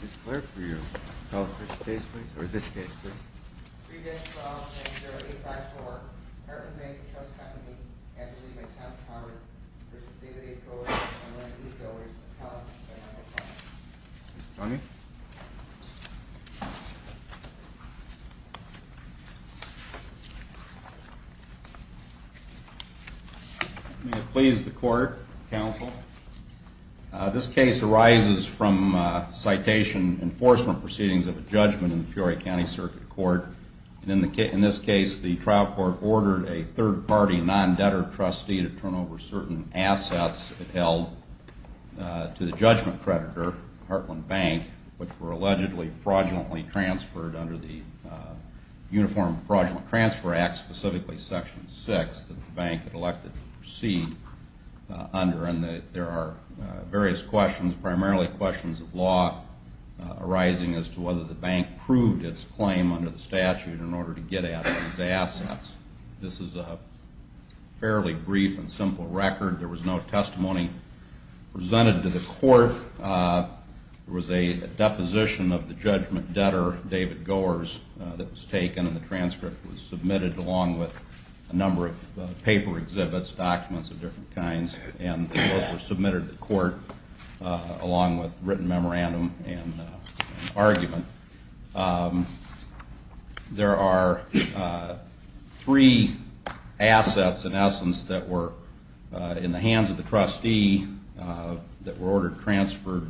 Mr. Clerk, will you call the first case, please? Or this case, please? 3-12-10-0854. Harland Bank & Trust Company. Ability by Thomas Harward v. David A. Coors and Leonard E. Goers. Appellant, 7-0-5. Mr. Clerk? May it please the Court, Counsel. This case arises from citation enforcement proceedings of a judgment in the Peoria County Circuit Court. In this case, the trial court ordered a third-party non-debtor trustee to turn over certain assets held to the judgment creditor, Hartland Bank, which were allegedly fraudulently transferred under the Uniform Fraudulent Transfer Act, specifically Section 6 that the bank had elected to proceed under. There are various questions, primarily questions of law, arising as to whether the bank proved its claim under the statute in order to get at these assets. This is a fairly brief and simple record. There was no testimony presented to the court. There was a deposition of the judgment debtor, David Goers, that was taken, and the transcript was submitted along with a number of paper exhibits, documents of different kinds, and those were submitted to the court along with written memorandum and argument. There are three assets, in essence, that were in the hands of the trustee that were ordered transferred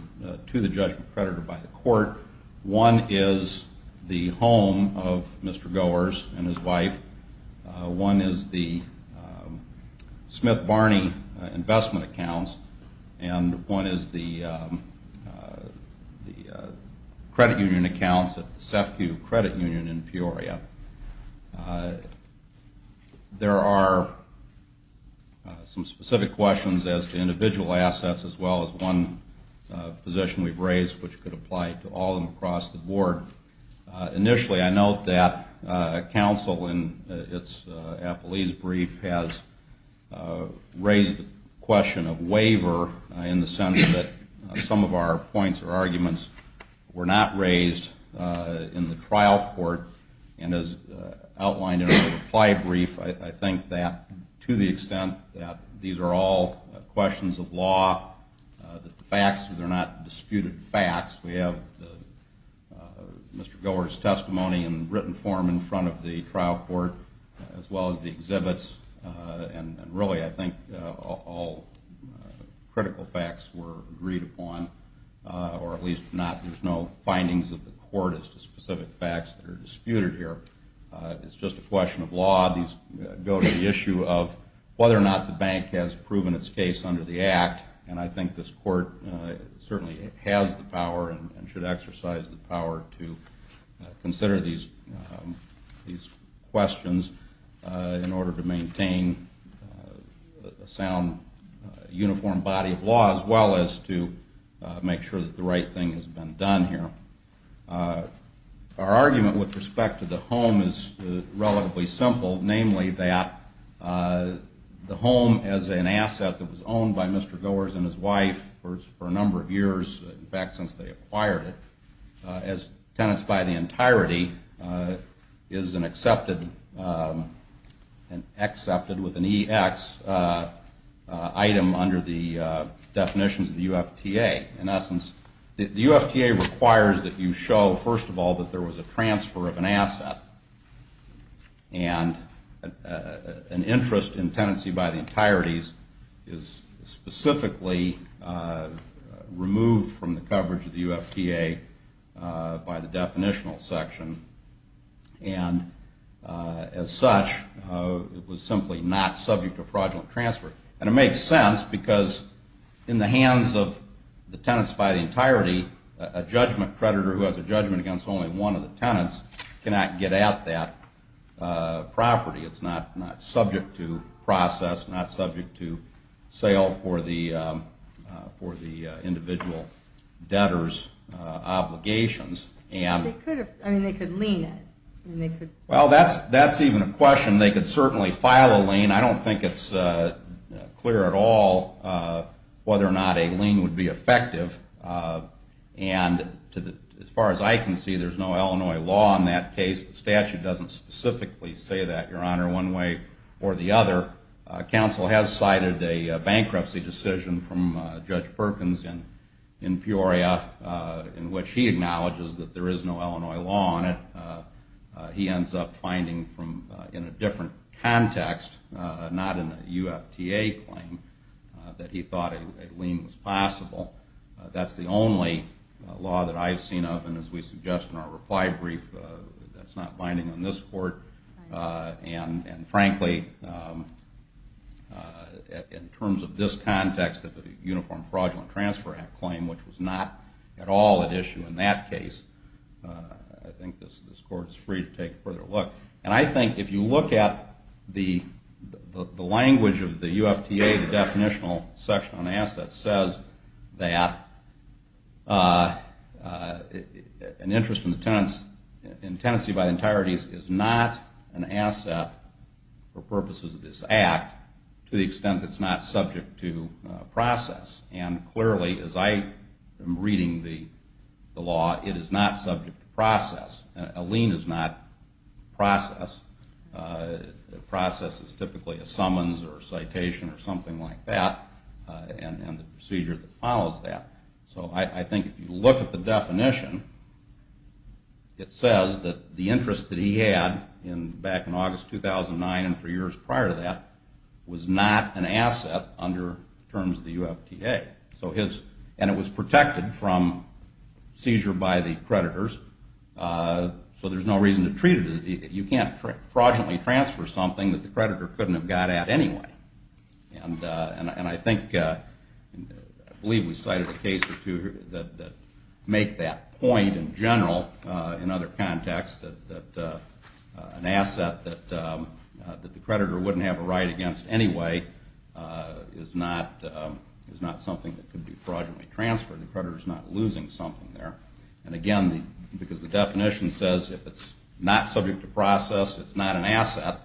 to the judgment creditor by the court. One is the home of Mr. Goers and his wife. One is the Smith Barney investment accounts, and one is the credit union accounts at the SEFCU Credit Union in Peoria. There are some specific questions as to individual assets as well as one position we've raised which could apply to all of them across the board. Initially, I note that counsel in its appellee's brief has raised the question of waiver in the sense that some of our points or arguments were not raised in the trial court, and as outlined in the reply brief, I think that to the extent that these are all questions of law, the facts are not disputed facts. We have Mr. Goers' testimony in written form in front of the trial court as well as the exhibits, and really I think all critical facts were agreed upon, or at least not. There's no findings of the court as to specific facts that are disputed here. It's just a question of law. These go to the issue of whether or not the bank has proven its case under the act, and I think this court certainly has the power and should exercise the power to consider these questions in order to maintain a sound, uniform body of law as well as to make sure that the right thing has been done here. Our argument with respect to the home is relatively simple, namely that the home as an asset that was owned by Mr. Goers and his wife for a number of years, in fact since they acquired it, as tenants by the entirety is an accepted with an EX item under the definitions of the UFTA. In essence, the UFTA requires that you show first of all that there was a transfer of an asset and an interest in tenancy by the entirety is specifically removed from the coverage of the UFTA by the definitional section. And as such, it was simply not subject to fraudulent transfer. And it makes sense because in the hands of the tenants by the entirety, a judgment creditor who has a judgment against only one of the tenants cannot get at that property. It's not subject to process, not subject to sale for the individual debtor's obligations. They could lien it. Well, that's even a question. They could certainly file a lien. I don't think it's clear at all whether or not a lien would be effective. And as far as I can see, there's no Illinois law in that case. The statute doesn't specifically say that, Your Honor, one way or the other. Counsel has cited a bankruptcy decision from Judge Perkins in Peoria in which he acknowledges that there is no Illinois law on it. He ends up finding in a different context, not in a UFTA claim, that he thought a lien was possible. That's the only law that I've seen of. And as we suggest in our reply brief, that's not binding on this Court. And frankly, in terms of this context, the Uniform Fraudulent Transfer Act claim, which was not at all at issue in that case, I think this Court is free to take a further look. And I think if you look at the language of the UFTA, the definitional section on assets, says that an interest in tenancy by the entirety is not an asset for purposes of this act to the extent that it's not subject to process. And clearly, as I am reading the law, it is not subject to process. A lien is not process. Process is typically a summons or a citation or something like that, and the procedure that follows that. So I think if you look at the definition, it says that the interest that he had back in August 2009 and for years prior to that was not an asset under terms of the UFTA. And it was protected from seizure by the creditors, so there's no reason to treat it. You can't fraudulently transfer something that the creditor couldn't have got at anyway. And I think, I believe we cited a case or two that make that point in general, in other contexts, that an asset that the creditor wouldn't have a right against anyway is not something that could be fraudulently transferred. The creditor is not losing something there. And again, because the definition says if it's not subject to process, it's not an asset,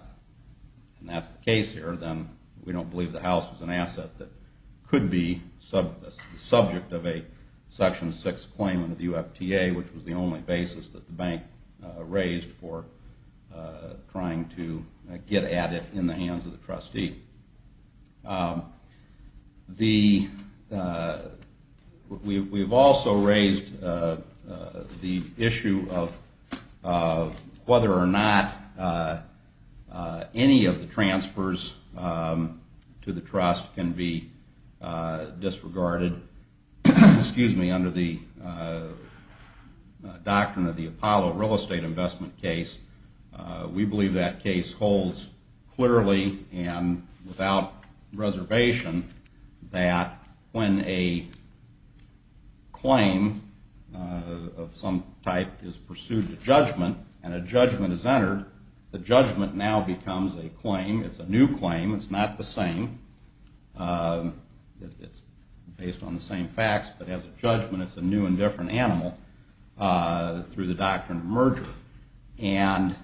and that's the case here, then we don't believe the house is an asset that could be subject of a Section 6 claim under the UFTA, which was the only basis that the bank raised for trying to get at it in the hands of the trustee. We've also raised the issue of whether or not any of the transfers to the trust can be disregarded, excuse me, under the doctrine of the Apollo real estate investment case. We believe that case holds clearly and without reservation that when a claim of some type is pursued to judgment and a judgment is entered, the judgment now becomes a claim. It's a new claim. It's not the same. It's based on the same facts, but as a judgment, it's a new and different animal through the doctrine of merger. And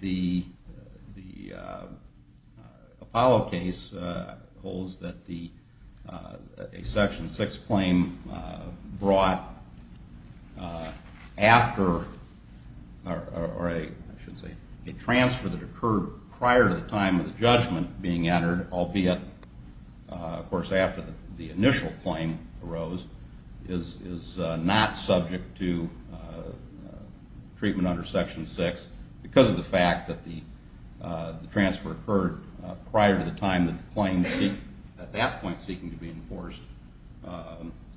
the Apollo case holds that a Section 6 claim brought after, or I should say, a transfer that occurred prior to the time of the judgment being entered, albeit, of course, after the initial claim arose, is not subject to treatment under Section 6 because of the fact that the transfer occurred prior to the time that the claim at that point seeking to be enforced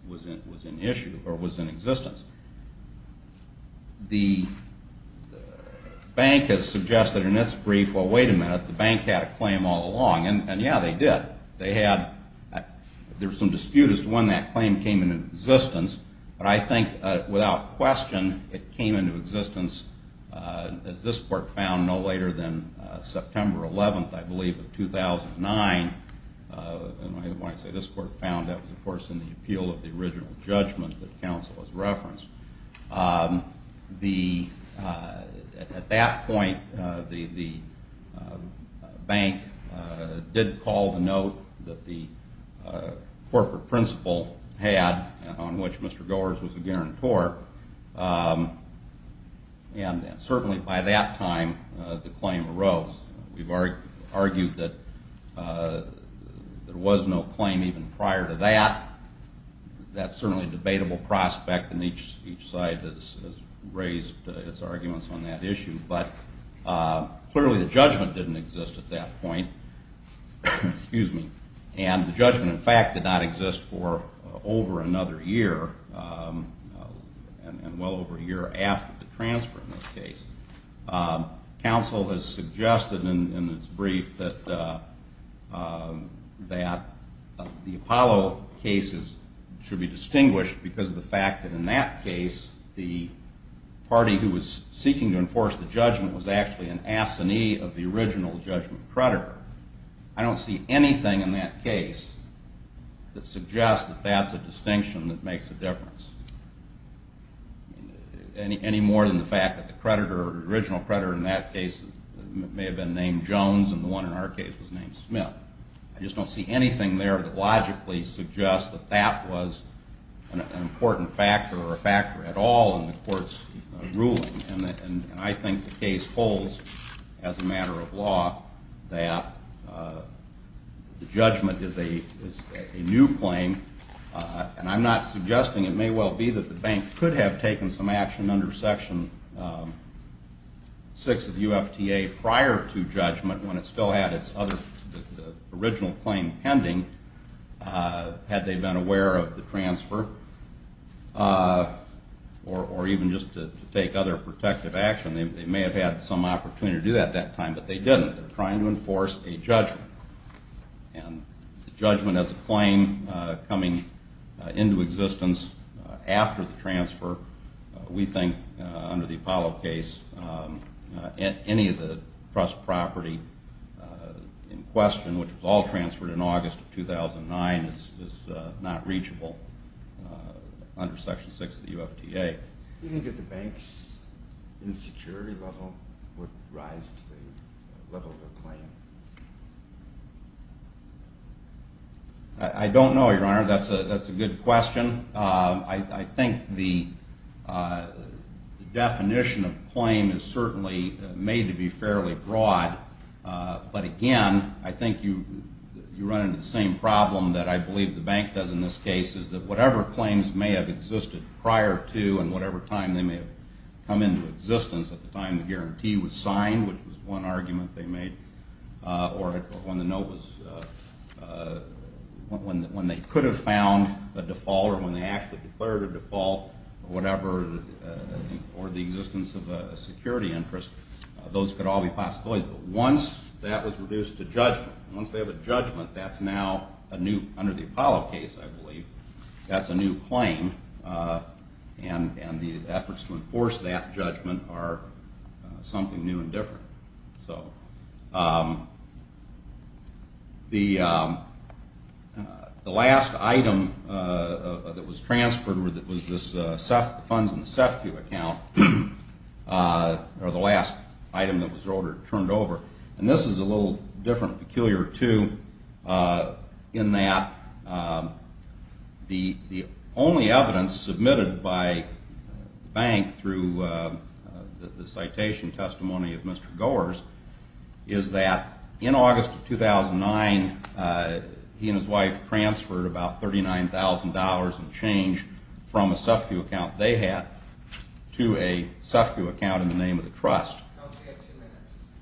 was in issue or was in existence. The bank has suggested in its brief, well, wait a minute, the bank had a claim all along, and, yeah, they did. They had, there was some dispute as to when that claim came into existence, but I think without question it came into existence, as this court found, no later than September 11th, I believe, of 2009. And when I say this court found, that was, of course, in the appeal of the original judgment that counsel has referenced. The, at that point, the bank did call the note that the corporate principle had on which Mr. Goers was a guarantor, and certainly by that time the claim arose. We've argued that there was no claim even prior to that. That's certainly a debatable prospect, and each side has raised its arguments on that issue. But clearly the judgment didn't exist at that point, and the judgment, in fact, did not exist for over another year, and well over a year after the transfer in this case. Counsel has suggested in its brief that the Apollo cases should be distinguished because of the fact that in that case the party who was seeking to enforce the judgment was actually an assignee of the original judgment creditor. I don't see anything in that case that suggests that that's a distinction that makes a difference, any more than the fact that the creditor, the original creditor in that case may have been named Jones and the one in our case was named Smith. I just don't see anything there that logically suggests that that was an important factor or a factor at all in the court's ruling. And I think the case holds, as a matter of law, that the judgment is a new claim, and I'm not suggesting it may well be that the bank could have taken some action under Section 6 of UFTA prior to judgment when it still had its original claim pending, had they been aware of the transfer, or even just to take other protective action. They may have had some opportunity to do that at that time, but they didn't. They were trying to enforce a judgment. And the judgment as a claim coming into existence after the transfer, we think under the Apollo case, any of the trust property in question, which was all transferred in August of 2009, is not reachable under Section 6 of the UFTA. Do you think that the bank's insecurity level would rise to the level of a claim? I don't know, Your Honor. That's a good question. I think the definition of claim is certainly made to be fairly broad, but again, I think you run into the same problem that I believe the bank does in this case, is that whatever claims may have existed prior to and whatever time they may have come into existence at the time the guarantee was signed, which was one argument they made, or when they could have found a default or when they actually declared a default or the existence of a security interest, those could all be possibilities. But once that was reduced to judgment, once they have a judgment, that's now under the Apollo case, I believe, that's a new claim, and the efforts to enforce that judgment are something new and different. So the last item that was transferred was the funds in the SEFCU account, or the last item that was turned over. And this is a little different, peculiar, too, in that the only evidence submitted by the bank through the citation testimony of Mr. Goers is that in August of 2009, he and his wife transferred about $39,000 in change from a SEFCU account they had to a SEFCU account in the name of the trust.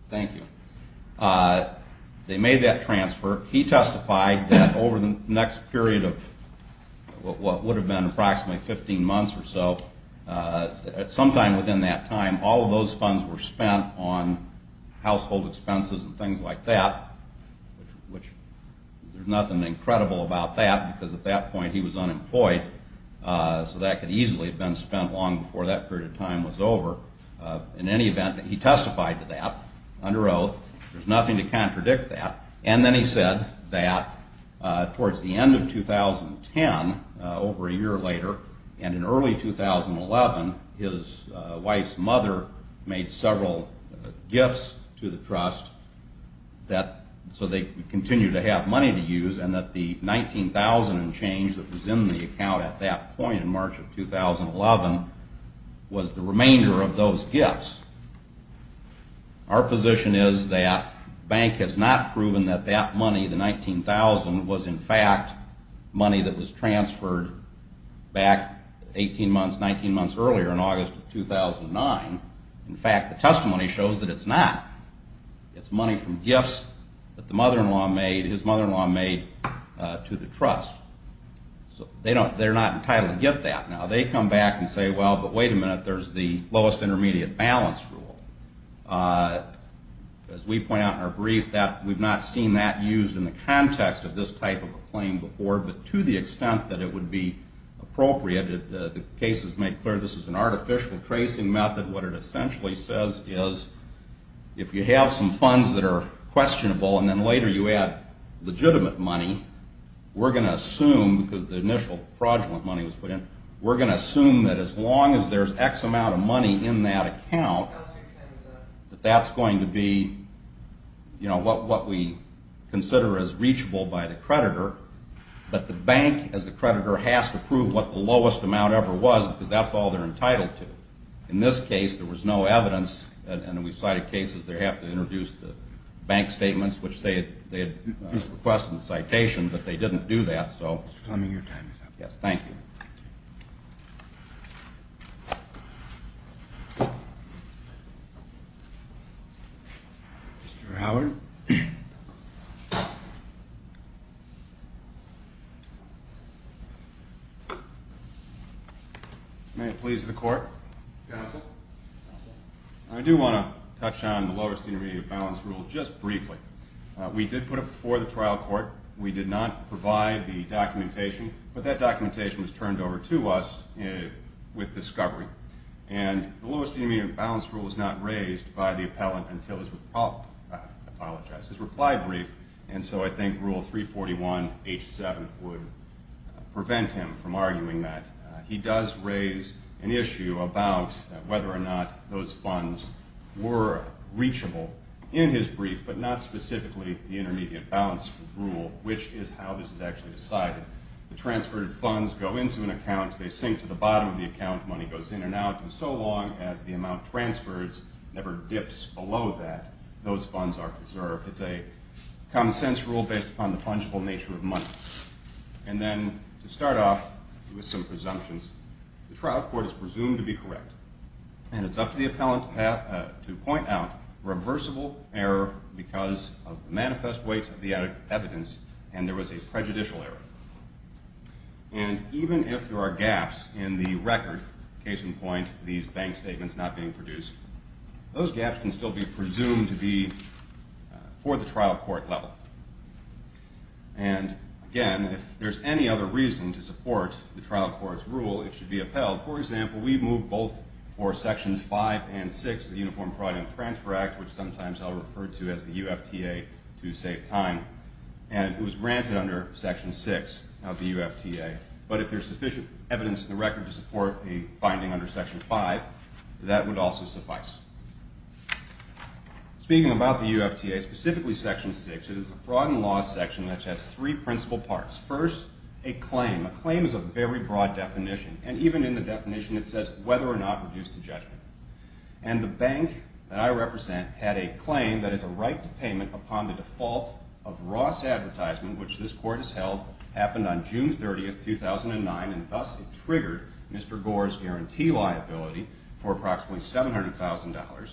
Thank you. They made that transfer. He testified that over the next period of what would have been approximately 15 months or so, sometime within that time, all of those funds were spent on household expenses and things like that, which there's nothing incredible about that, because at that point he was unemployed, so that could easily have been spent long before that period of time was over. In any event, he testified to that under oath. There's nothing to contradict that. And then he said that towards the end of 2010, over a year later, and in early 2011, his wife's mother made several gifts to the trust so they could continue to have money to use, and that the $19,000 in change that was in the account at that point in March of 2011 was the remainder of those gifts. Our position is that the bank has not proven that that money, the $19,000, was in fact money that was transferred back 18 months, 19 months earlier in August of 2009. In fact, the testimony shows that it's not. It's money from gifts that the mother-in-law made, his mother-in-law made, to the trust. So they're not entitled to get that now. They come back and say, well, but wait a minute, there's the lowest intermediate balance rule. As we point out in our brief, we've not seen that used in the context of this type of a claim before, but to the extent that it would be appropriate, the cases make clear this is an artificial tracing method. What it essentially says is if you have some funds that are questionable and then later you add legitimate money, we're going to assume, because the initial fraudulent money was put in, we're going to assume that as long as there's X amount of money in that account, that that's going to be what we consider as reachable by the creditor, but the bank as the creditor has to prove what the lowest amount ever was because that's all they're entitled to. In this case, there was no evidence, and we've cited cases where they have to introduce the bank statements, which they had requested in the citation, but they didn't do that. Mr. Fleming, your time is up. Yes, thank you. Mr. Howard? May it please the Court? Counsel? Counsel. I do want to touch on the lowest intermediate balance rule just briefly. We did put it before the trial court. We did not provide the documentation, but that documentation was turned over to us with discovery, and the lowest intermediate balance rule was not raised by the appellant until his reply brief, and so I think Rule 341H7 would prevent him from arguing that. He does raise an issue about whether or not those funds were reachable in his brief, but not specifically the intermediate balance rule, which is how this is actually decided. The transferred funds go into an account. They sink to the bottom of the account. Money goes in and out, and so long as the amount transferred never dips below that, those funds are preserved. It's a common-sense rule based upon the fungible nature of money. And then to start off with some presumptions, the trial court is presumed to be correct, and it's up to the appellant to point out reversible error because of manifest weight of the evidence, and there was a prejudicial error. And even if there are gaps in the record, case in point, these bank statements not being produced, those gaps can still be presumed to be for the trial court level. And, again, if there's any other reason to support the trial court's rule, it should be upheld. For example, we moved both for Sections 5 and 6 of the Uniform Fraud and Transfer Act, which sometimes I'll refer to as the UFTA to save time, and it was granted under Section 6 of the UFTA. But if there's sufficient evidence in the record to support a finding under Section 5, that would also suffice. Speaking about the UFTA, specifically Section 6, it is a fraud and loss section which has three principal parts. First, a claim. A claim is a very broad definition, and even in the definition it says whether or not reduced to judgment. And the bank that I represent had a claim that is a right to payment upon the default of Ross Advertisement, which this court has held, happened on June 30, 2009, and thus it triggered Mr. Gore's guarantee liability for approximately $700,000.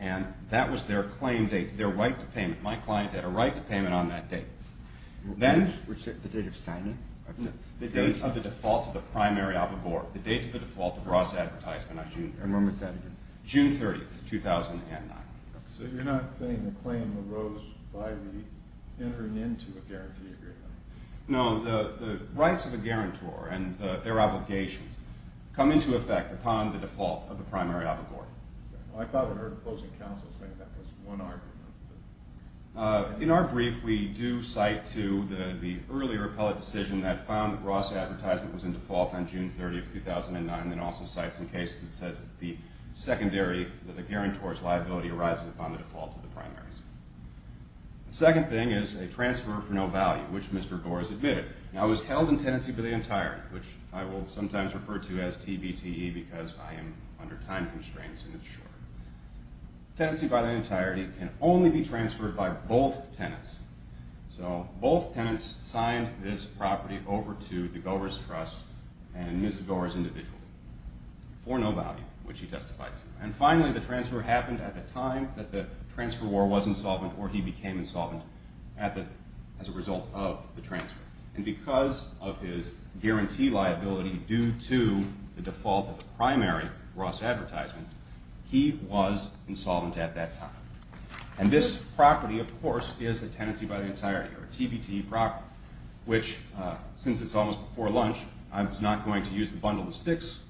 And that was their claim date, their right to payment. My client had a right to payment on that date. The date of signing? The date of the default of the primary allegory. The date of the default of Ross Advertisement on June 30. And when was that again? June 30, 2009. So you're not saying the claim arose by the entering into a guarantee agreement? No. The rights of a guarantor and their obligations come into effect upon the default of the primary allegory. I thought I heard the closing counsel say that was one argument. In our brief, we do cite to the earlier appellate decision that found that Ross Advertisement was in default on June 30, 2009, and it also cites a case that says that the secondary, that the guarantor's liability arises upon the default of the primaries. The second thing is a transfer for no value, which Mr. Gore has admitted. Now it was held in tenancy by the entirety, which I will sometimes refer to as TBTE because I am under time constraints and it's short. Tenancy by the entirety can only be transferred by both tenants. So both tenants signed this property over to the Gore's trust and Ms. Gore's individual for no value, which he testifies. And finally, the transfer happened at the time that the transfer war was insolvent or he became insolvent as a result of the transfer. And because of his guarantee liability due to the default of the primary, Ross Advertisement, he was insolvent at that time. And this property, of course, is a tenancy by the entirety or a TBTE property, which since it's almost before lunch, I was not going to use the bundle of sticks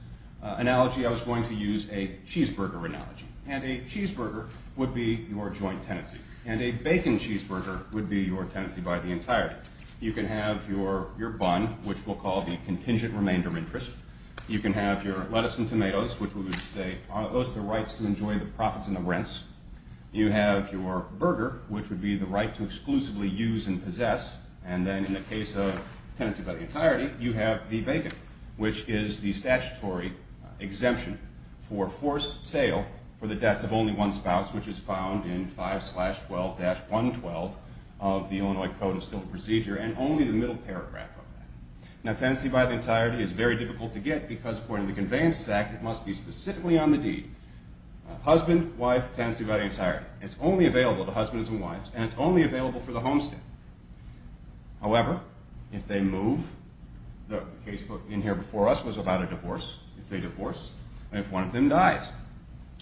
analogy. I was going to use a cheeseburger analogy, and a cheeseburger would be your joint tenancy, and a bacon cheeseburger would be your tenancy by the entirety. You can have your bun, which we'll call the contingent remainder interest. You can have your lettuce and tomatoes, which we would say are those the rights to enjoy the profits and the rents. You have your burger, which would be the right to exclusively use and possess. And then in the case of tenancy by the entirety, you have the bacon, which is the statutory exemption for forced sale for the debts of only one spouse, which is found in 5-12-112 of the Illinois Code of Civil Procedure, and only the middle paragraph of that. Now, tenancy by the entirety is very difficult to get because according to the Conveyances Act, it must be specifically on the deed. Husband, wife, tenancy by the entirety. It's only available to husbands and wives, and it's only available for the homestead. However, if they move, the casebook in here before us was about a divorce. If they divorce, if one of them dies,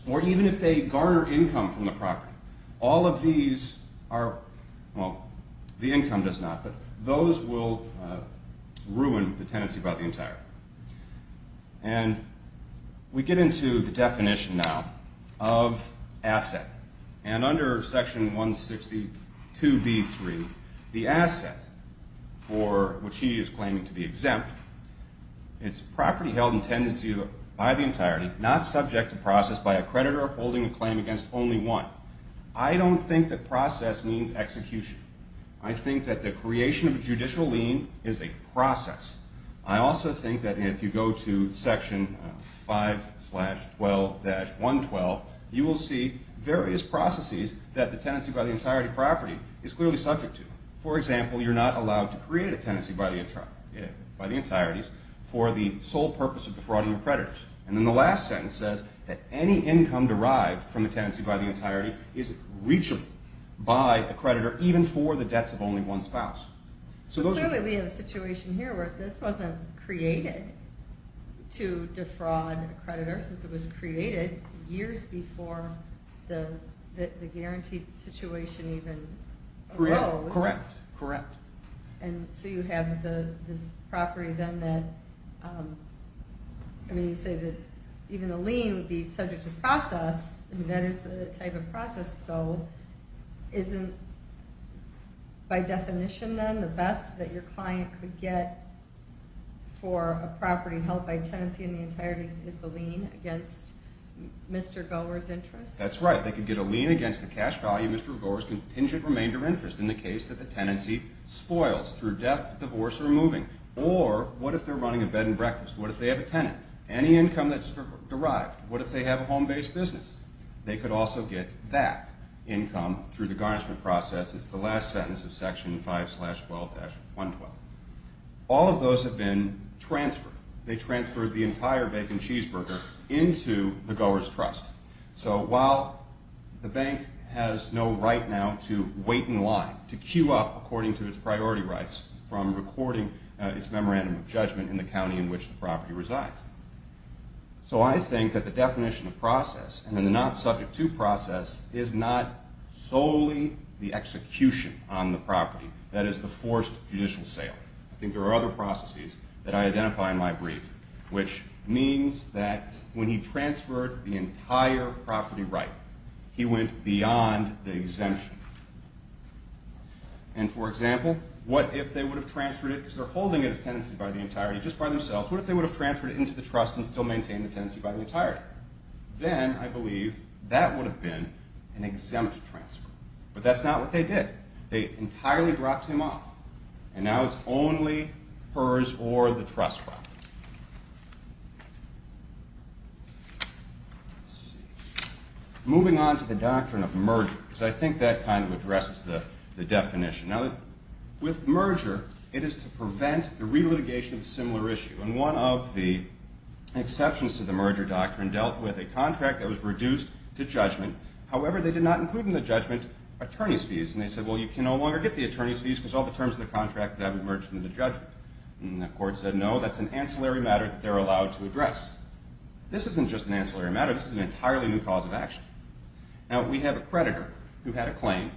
or even if they garner income from the property, all of these are, well, the income does not, but those will ruin the tenancy by the entirety. And we get into the definition now of asset. And under Section 162B3, the asset for which he is claiming to be exempt, it's property held in tenancy by the entirety, not subject to process by a creditor holding a claim against only one. I don't think that process means execution. I think that the creation of a judicial lien is a process. I also think that if you go to Section 5-12-112, you will see various processes that the tenancy by the entirety property is clearly subject to. For example, you're not allowed to create a tenancy by the entireties for the sole purpose of defrauding your creditors. And then the last sentence says that any income derived from a tenancy by the entirety is reachable by a creditor even for the debts of only one spouse. But clearly we have a situation here where this wasn't created to defraud a creditor since it was created years before the guaranteed situation even arose. Correct, correct. And so you have this property then that, I mean, you say that even a lien would be subject to process. I mean, that is the type of process. So isn't, by definition then, the best that your client could get for a property held by tenancy in the entirety is a lien against Mr. Gower's interest? That's right. They could get a lien against the cash value of Mr. Gower's contingent remainder interest in the case that the tenancy spoils through death, divorce, or moving. Or what if they're running a bed and breakfast? What if they have a tenant? Any income that's derived. What if they have a home-based business? They could also get that income through the garnishment process. It's the last sentence of Section 5-12-112. All of those have been transferred. They transferred the entire bacon cheeseburger into the Gower's trust. So while the bank has no right now to wait in line, to queue up according to its priority rights from recording its memorandum of judgment in the county in which the property resides. So I think that the definition of process and the not subject to process is not solely the execution on the property. That is the forced judicial sale. I think there are other processes that I identify in my brief, which means that when he transferred the entire property right, he went beyond the exemption. And for example, what if they would have transferred it because they're holding it as tenancy by the entirety just by themselves. What if they would have transferred it into the trust and still maintain the tenancy by the entirety? Then I believe that would have been an exempt transfer. But that's not what they did. They entirely dropped him off. And now it's only hers or the trust fund. Moving on to the doctrine of merger. So I think that kind of addresses the definition. Now, with merger, it is to prevent the relitigation of a similar issue. And one of the exceptions to the merger doctrine dealt with a contract that was reduced to judgment. And they said, well, you can no longer get the attorney's fees because all the terms of the contract have emerged in the judgment. And the court said, no, that's an ancillary matter that they're allowed to address. This isn't just an ancillary matter. This is an entirely new cause of action. Now, we have a creditor who had a claim.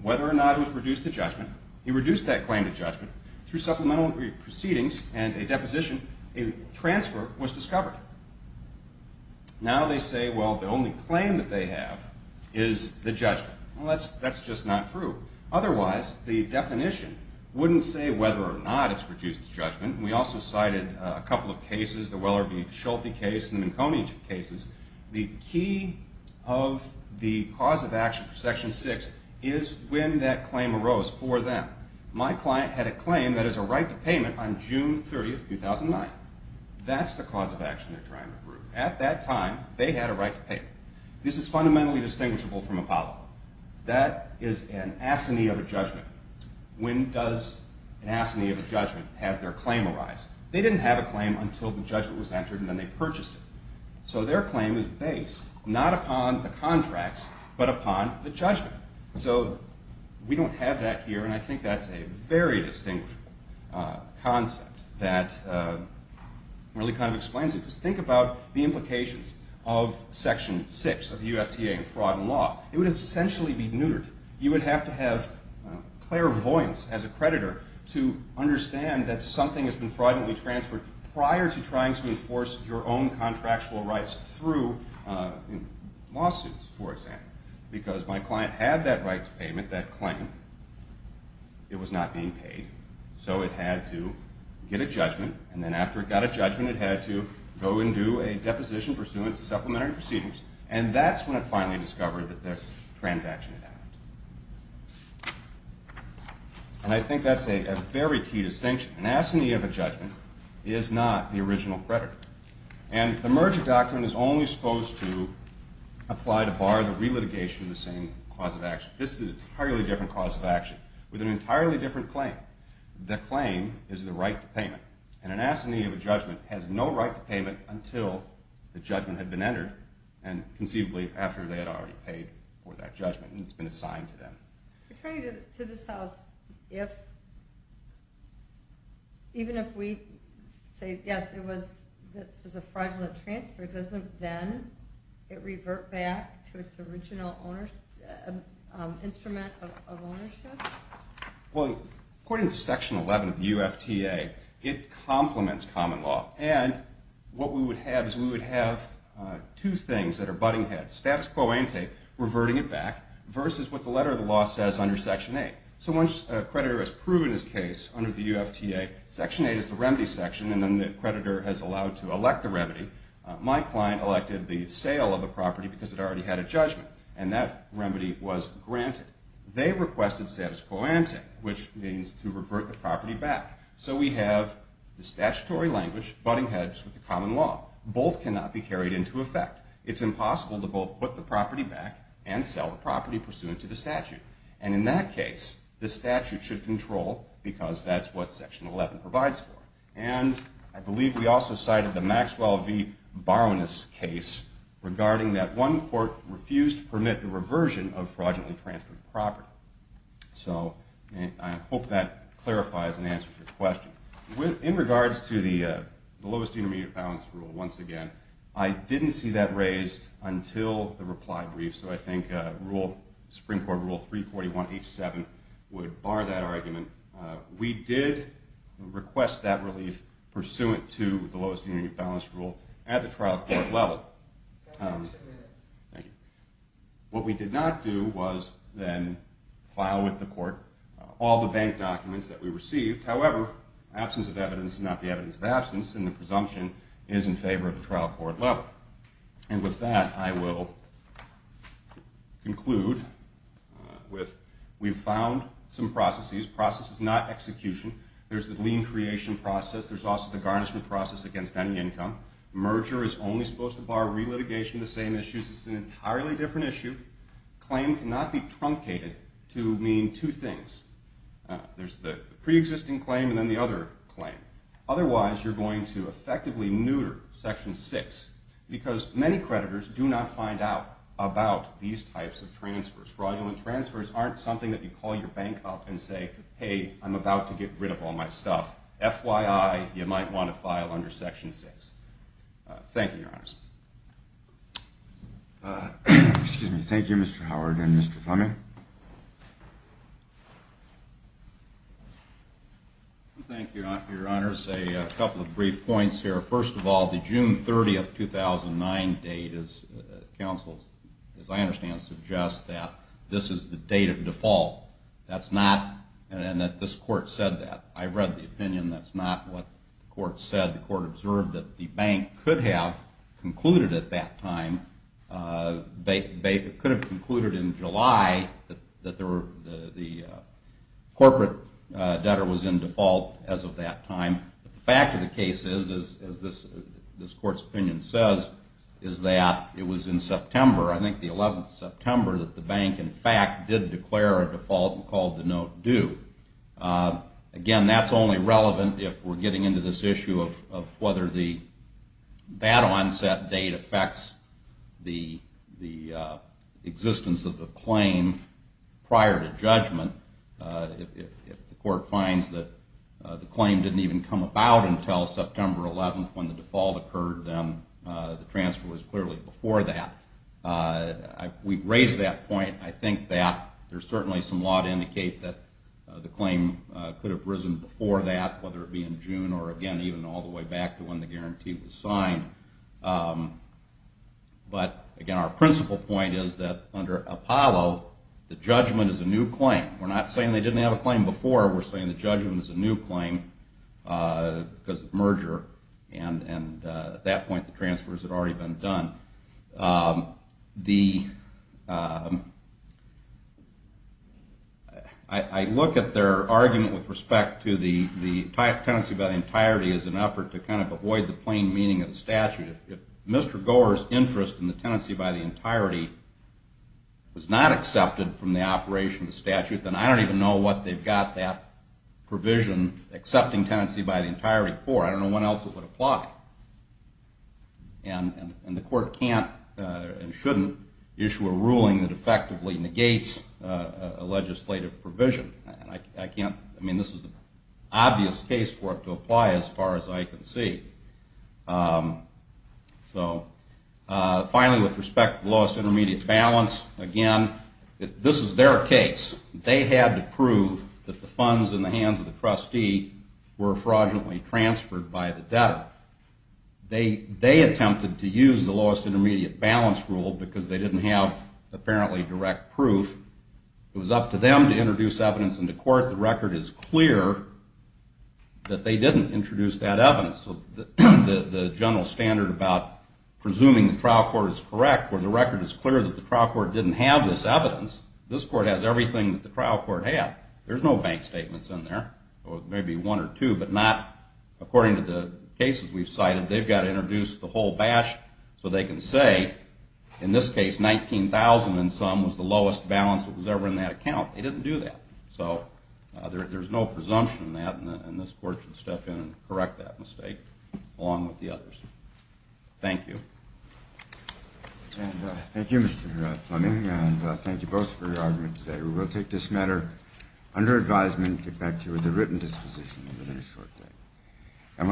Whether or not it was reduced to judgment, he reduced that claim to judgment. Through supplemental proceedings and a deposition, a transfer was discovered. Now they say, well, the only claim that they have is the judgment. Well, that's just not true. Otherwise, the definition wouldn't say whether or not it's reduced to judgment. We also cited a couple of cases, the Weller v. Schulte case and the McConey cases. The key of the cause of action for Section 6 is when that claim arose for them. My client had a claim that is a right to payment on June 30, 2009. That's the cause of action they're trying to prove. At that time, they had a right to pay. This is fundamentally distinguishable from Apollo. That is an asceny of a judgment. When does an asceny of a judgment have their claim arise? They didn't have a claim until the judgment was entered and then they purchased it. So their claim is based not upon the contracts but upon the judgment. So we don't have that here, and I think that's a very distinguishable concept that really kind of explains it. Just think about the implications of Section 6 of the UFTA in fraud and law. It would essentially be neutered. You would have to have clairvoyance as a creditor to understand that something has been fraudulently transferred prior to trying to enforce your own contractual rights through lawsuits, for example, because my client had that right to payment, that claim. It was not being paid, so it had to get a judgment, and then after it got a judgment, it had to go and do a deposition pursuant to supplementary proceedings, and that's when it finally discovered that this transaction had happened. And I think that's a very key distinction. An asceny of a judgment is not the original creditor, and the merger doctrine is only supposed to apply to bar the relitigation of the same cause of action. This is an entirely different cause of action with an entirely different claim. The claim is the right to payment, and an asceny of a judgment has no right to payment until the judgment had been entered, and conceivably after they had already paid for that judgment and it's been assigned to them. Attorney, to this house, even if we say, yes, it was a fraudulent transfer, doesn't then it revert back to its original instrument of ownership? Well, according to Section 11 of the UFTA, it complements common law, and what we would have is we would have two things that are butting heads, status quo ante, reverting it back, versus what the letter of the law says under Section 8. So once a creditor has proven his case under the UFTA, Section 8 is the remedy section, and then the creditor has allowed to elect the remedy. My client elected the sale of the property because it already had a judgment, and that remedy was granted. They requested status quo ante, which means to revert the property back. So we have the statutory language butting heads with the common law. Both cannot be carried into effect. It's impossible to both put the property back and sell the property pursuant to the statute. And in that case, the statute should control because that's what Section 11 provides for. And I believe we also cited the Maxwell v. Baroness case regarding that one court refused to permit the reversion of fraudulently transferred property. So I hope that clarifies and answers your question. In regards to the lowest union balance rule, once again, I didn't see that raised until the reply brief, so I think Supreme Court Rule 341H7 would bar that argument. We did request that relief pursuant to the lowest union balance rule at the trial court level. What we did not do was then file with the court all the bank documents that we received. However, absence of evidence is not the evidence of absence, and the presumption is in favor of the trial court level. And with that, I will conclude with we've found some processes. Process is not execution. There's the lien creation process. There's also the garnishment process against any income. Merger is only supposed to bar relitigation of the same issues. It's an entirely different issue. Claim cannot be truncated to mean two things. There's the preexisting claim and then the other claim. Otherwise, you're going to effectively neuter Section 6. Because many creditors do not find out about these types of transfers. Fraudulent transfers aren't something that you call your bank up and say, hey, I'm about to get rid of all my stuff. FYI, you might want to file under Section 6. Thank you, Your Honors. Excuse me. Thank you, Mr. Howard and Mr. Fleming. Thank you, Your Honors. A couple of brief points here. First of all, the June 30, 2009 date, as counsel, as I understand, suggests that this is the date of default. That's not and that this court said that. I read the opinion. That's not what the court said. The court observed that the bank could have concluded at that time. They could have concluded in July that the corporate debtor was in default as of that time. But the fact of the case is, as this court's opinion says, is that it was in September, I think the 11th of September, that the bank, in fact, did declare a default and called the note due. Again, that's only relevant if we're getting into this issue of whether that onset date affects the existence of the claim prior to judgment. If the court finds that the claim didn't even come about until September 11th when the default occurred, then the transfer was clearly before that. We've raised that point. I think that there's certainly some law to indicate that the claim could have risen before that, whether it be in June or, again, even all the way back to when the guarantee was signed. But, again, our principal point is that under Apollo, the judgment is a new claim. We're not saying they didn't have a claim before. We're saying the judgment is a new claim because of merger, and at that point the transfers had already been done. I look at their argument with respect to the tenancy by the entirety as an effort to kind of avoid the plain meaning of the statute. If Mr. Gore's interest in the tenancy by the entirety was not accepted from the operation of the statute, then I don't even know what they've got that provision accepting tenancy by the entirety for. I don't know what else it would apply. And the court can't and shouldn't issue a ruling that effectively negates a legislative provision. I mean, this is an obvious case for it to apply as far as I can see. So, finally, with respect to the lowest intermediate balance, again, this is their case. They had to prove that the funds in the hands of the trustee were fraudulently transferred by the debtor. They attempted to use the lowest intermediate balance rule because they didn't have apparently direct proof. It was up to them to introduce evidence into court. The record is clear that they didn't introduce that evidence. So the general standard about presuming the trial court is correct, where the record is clear that the trial court didn't have this evidence, this court has everything that the trial court had. There's no bank statements in there, maybe one or two, but not according to the cases we've cited. They've got to introduce the whole bash so they can say, in this case, $19,000 in sum was the lowest balance that was ever in that account. They didn't do that. So there's no presumption in that, and this court should step in and correct that mistake along with the others. Thank you. And thank you, Mr. Fleming, and thank you both for your argument today. We will take this matter under advisement and get back to you with a written disposition in a very short time.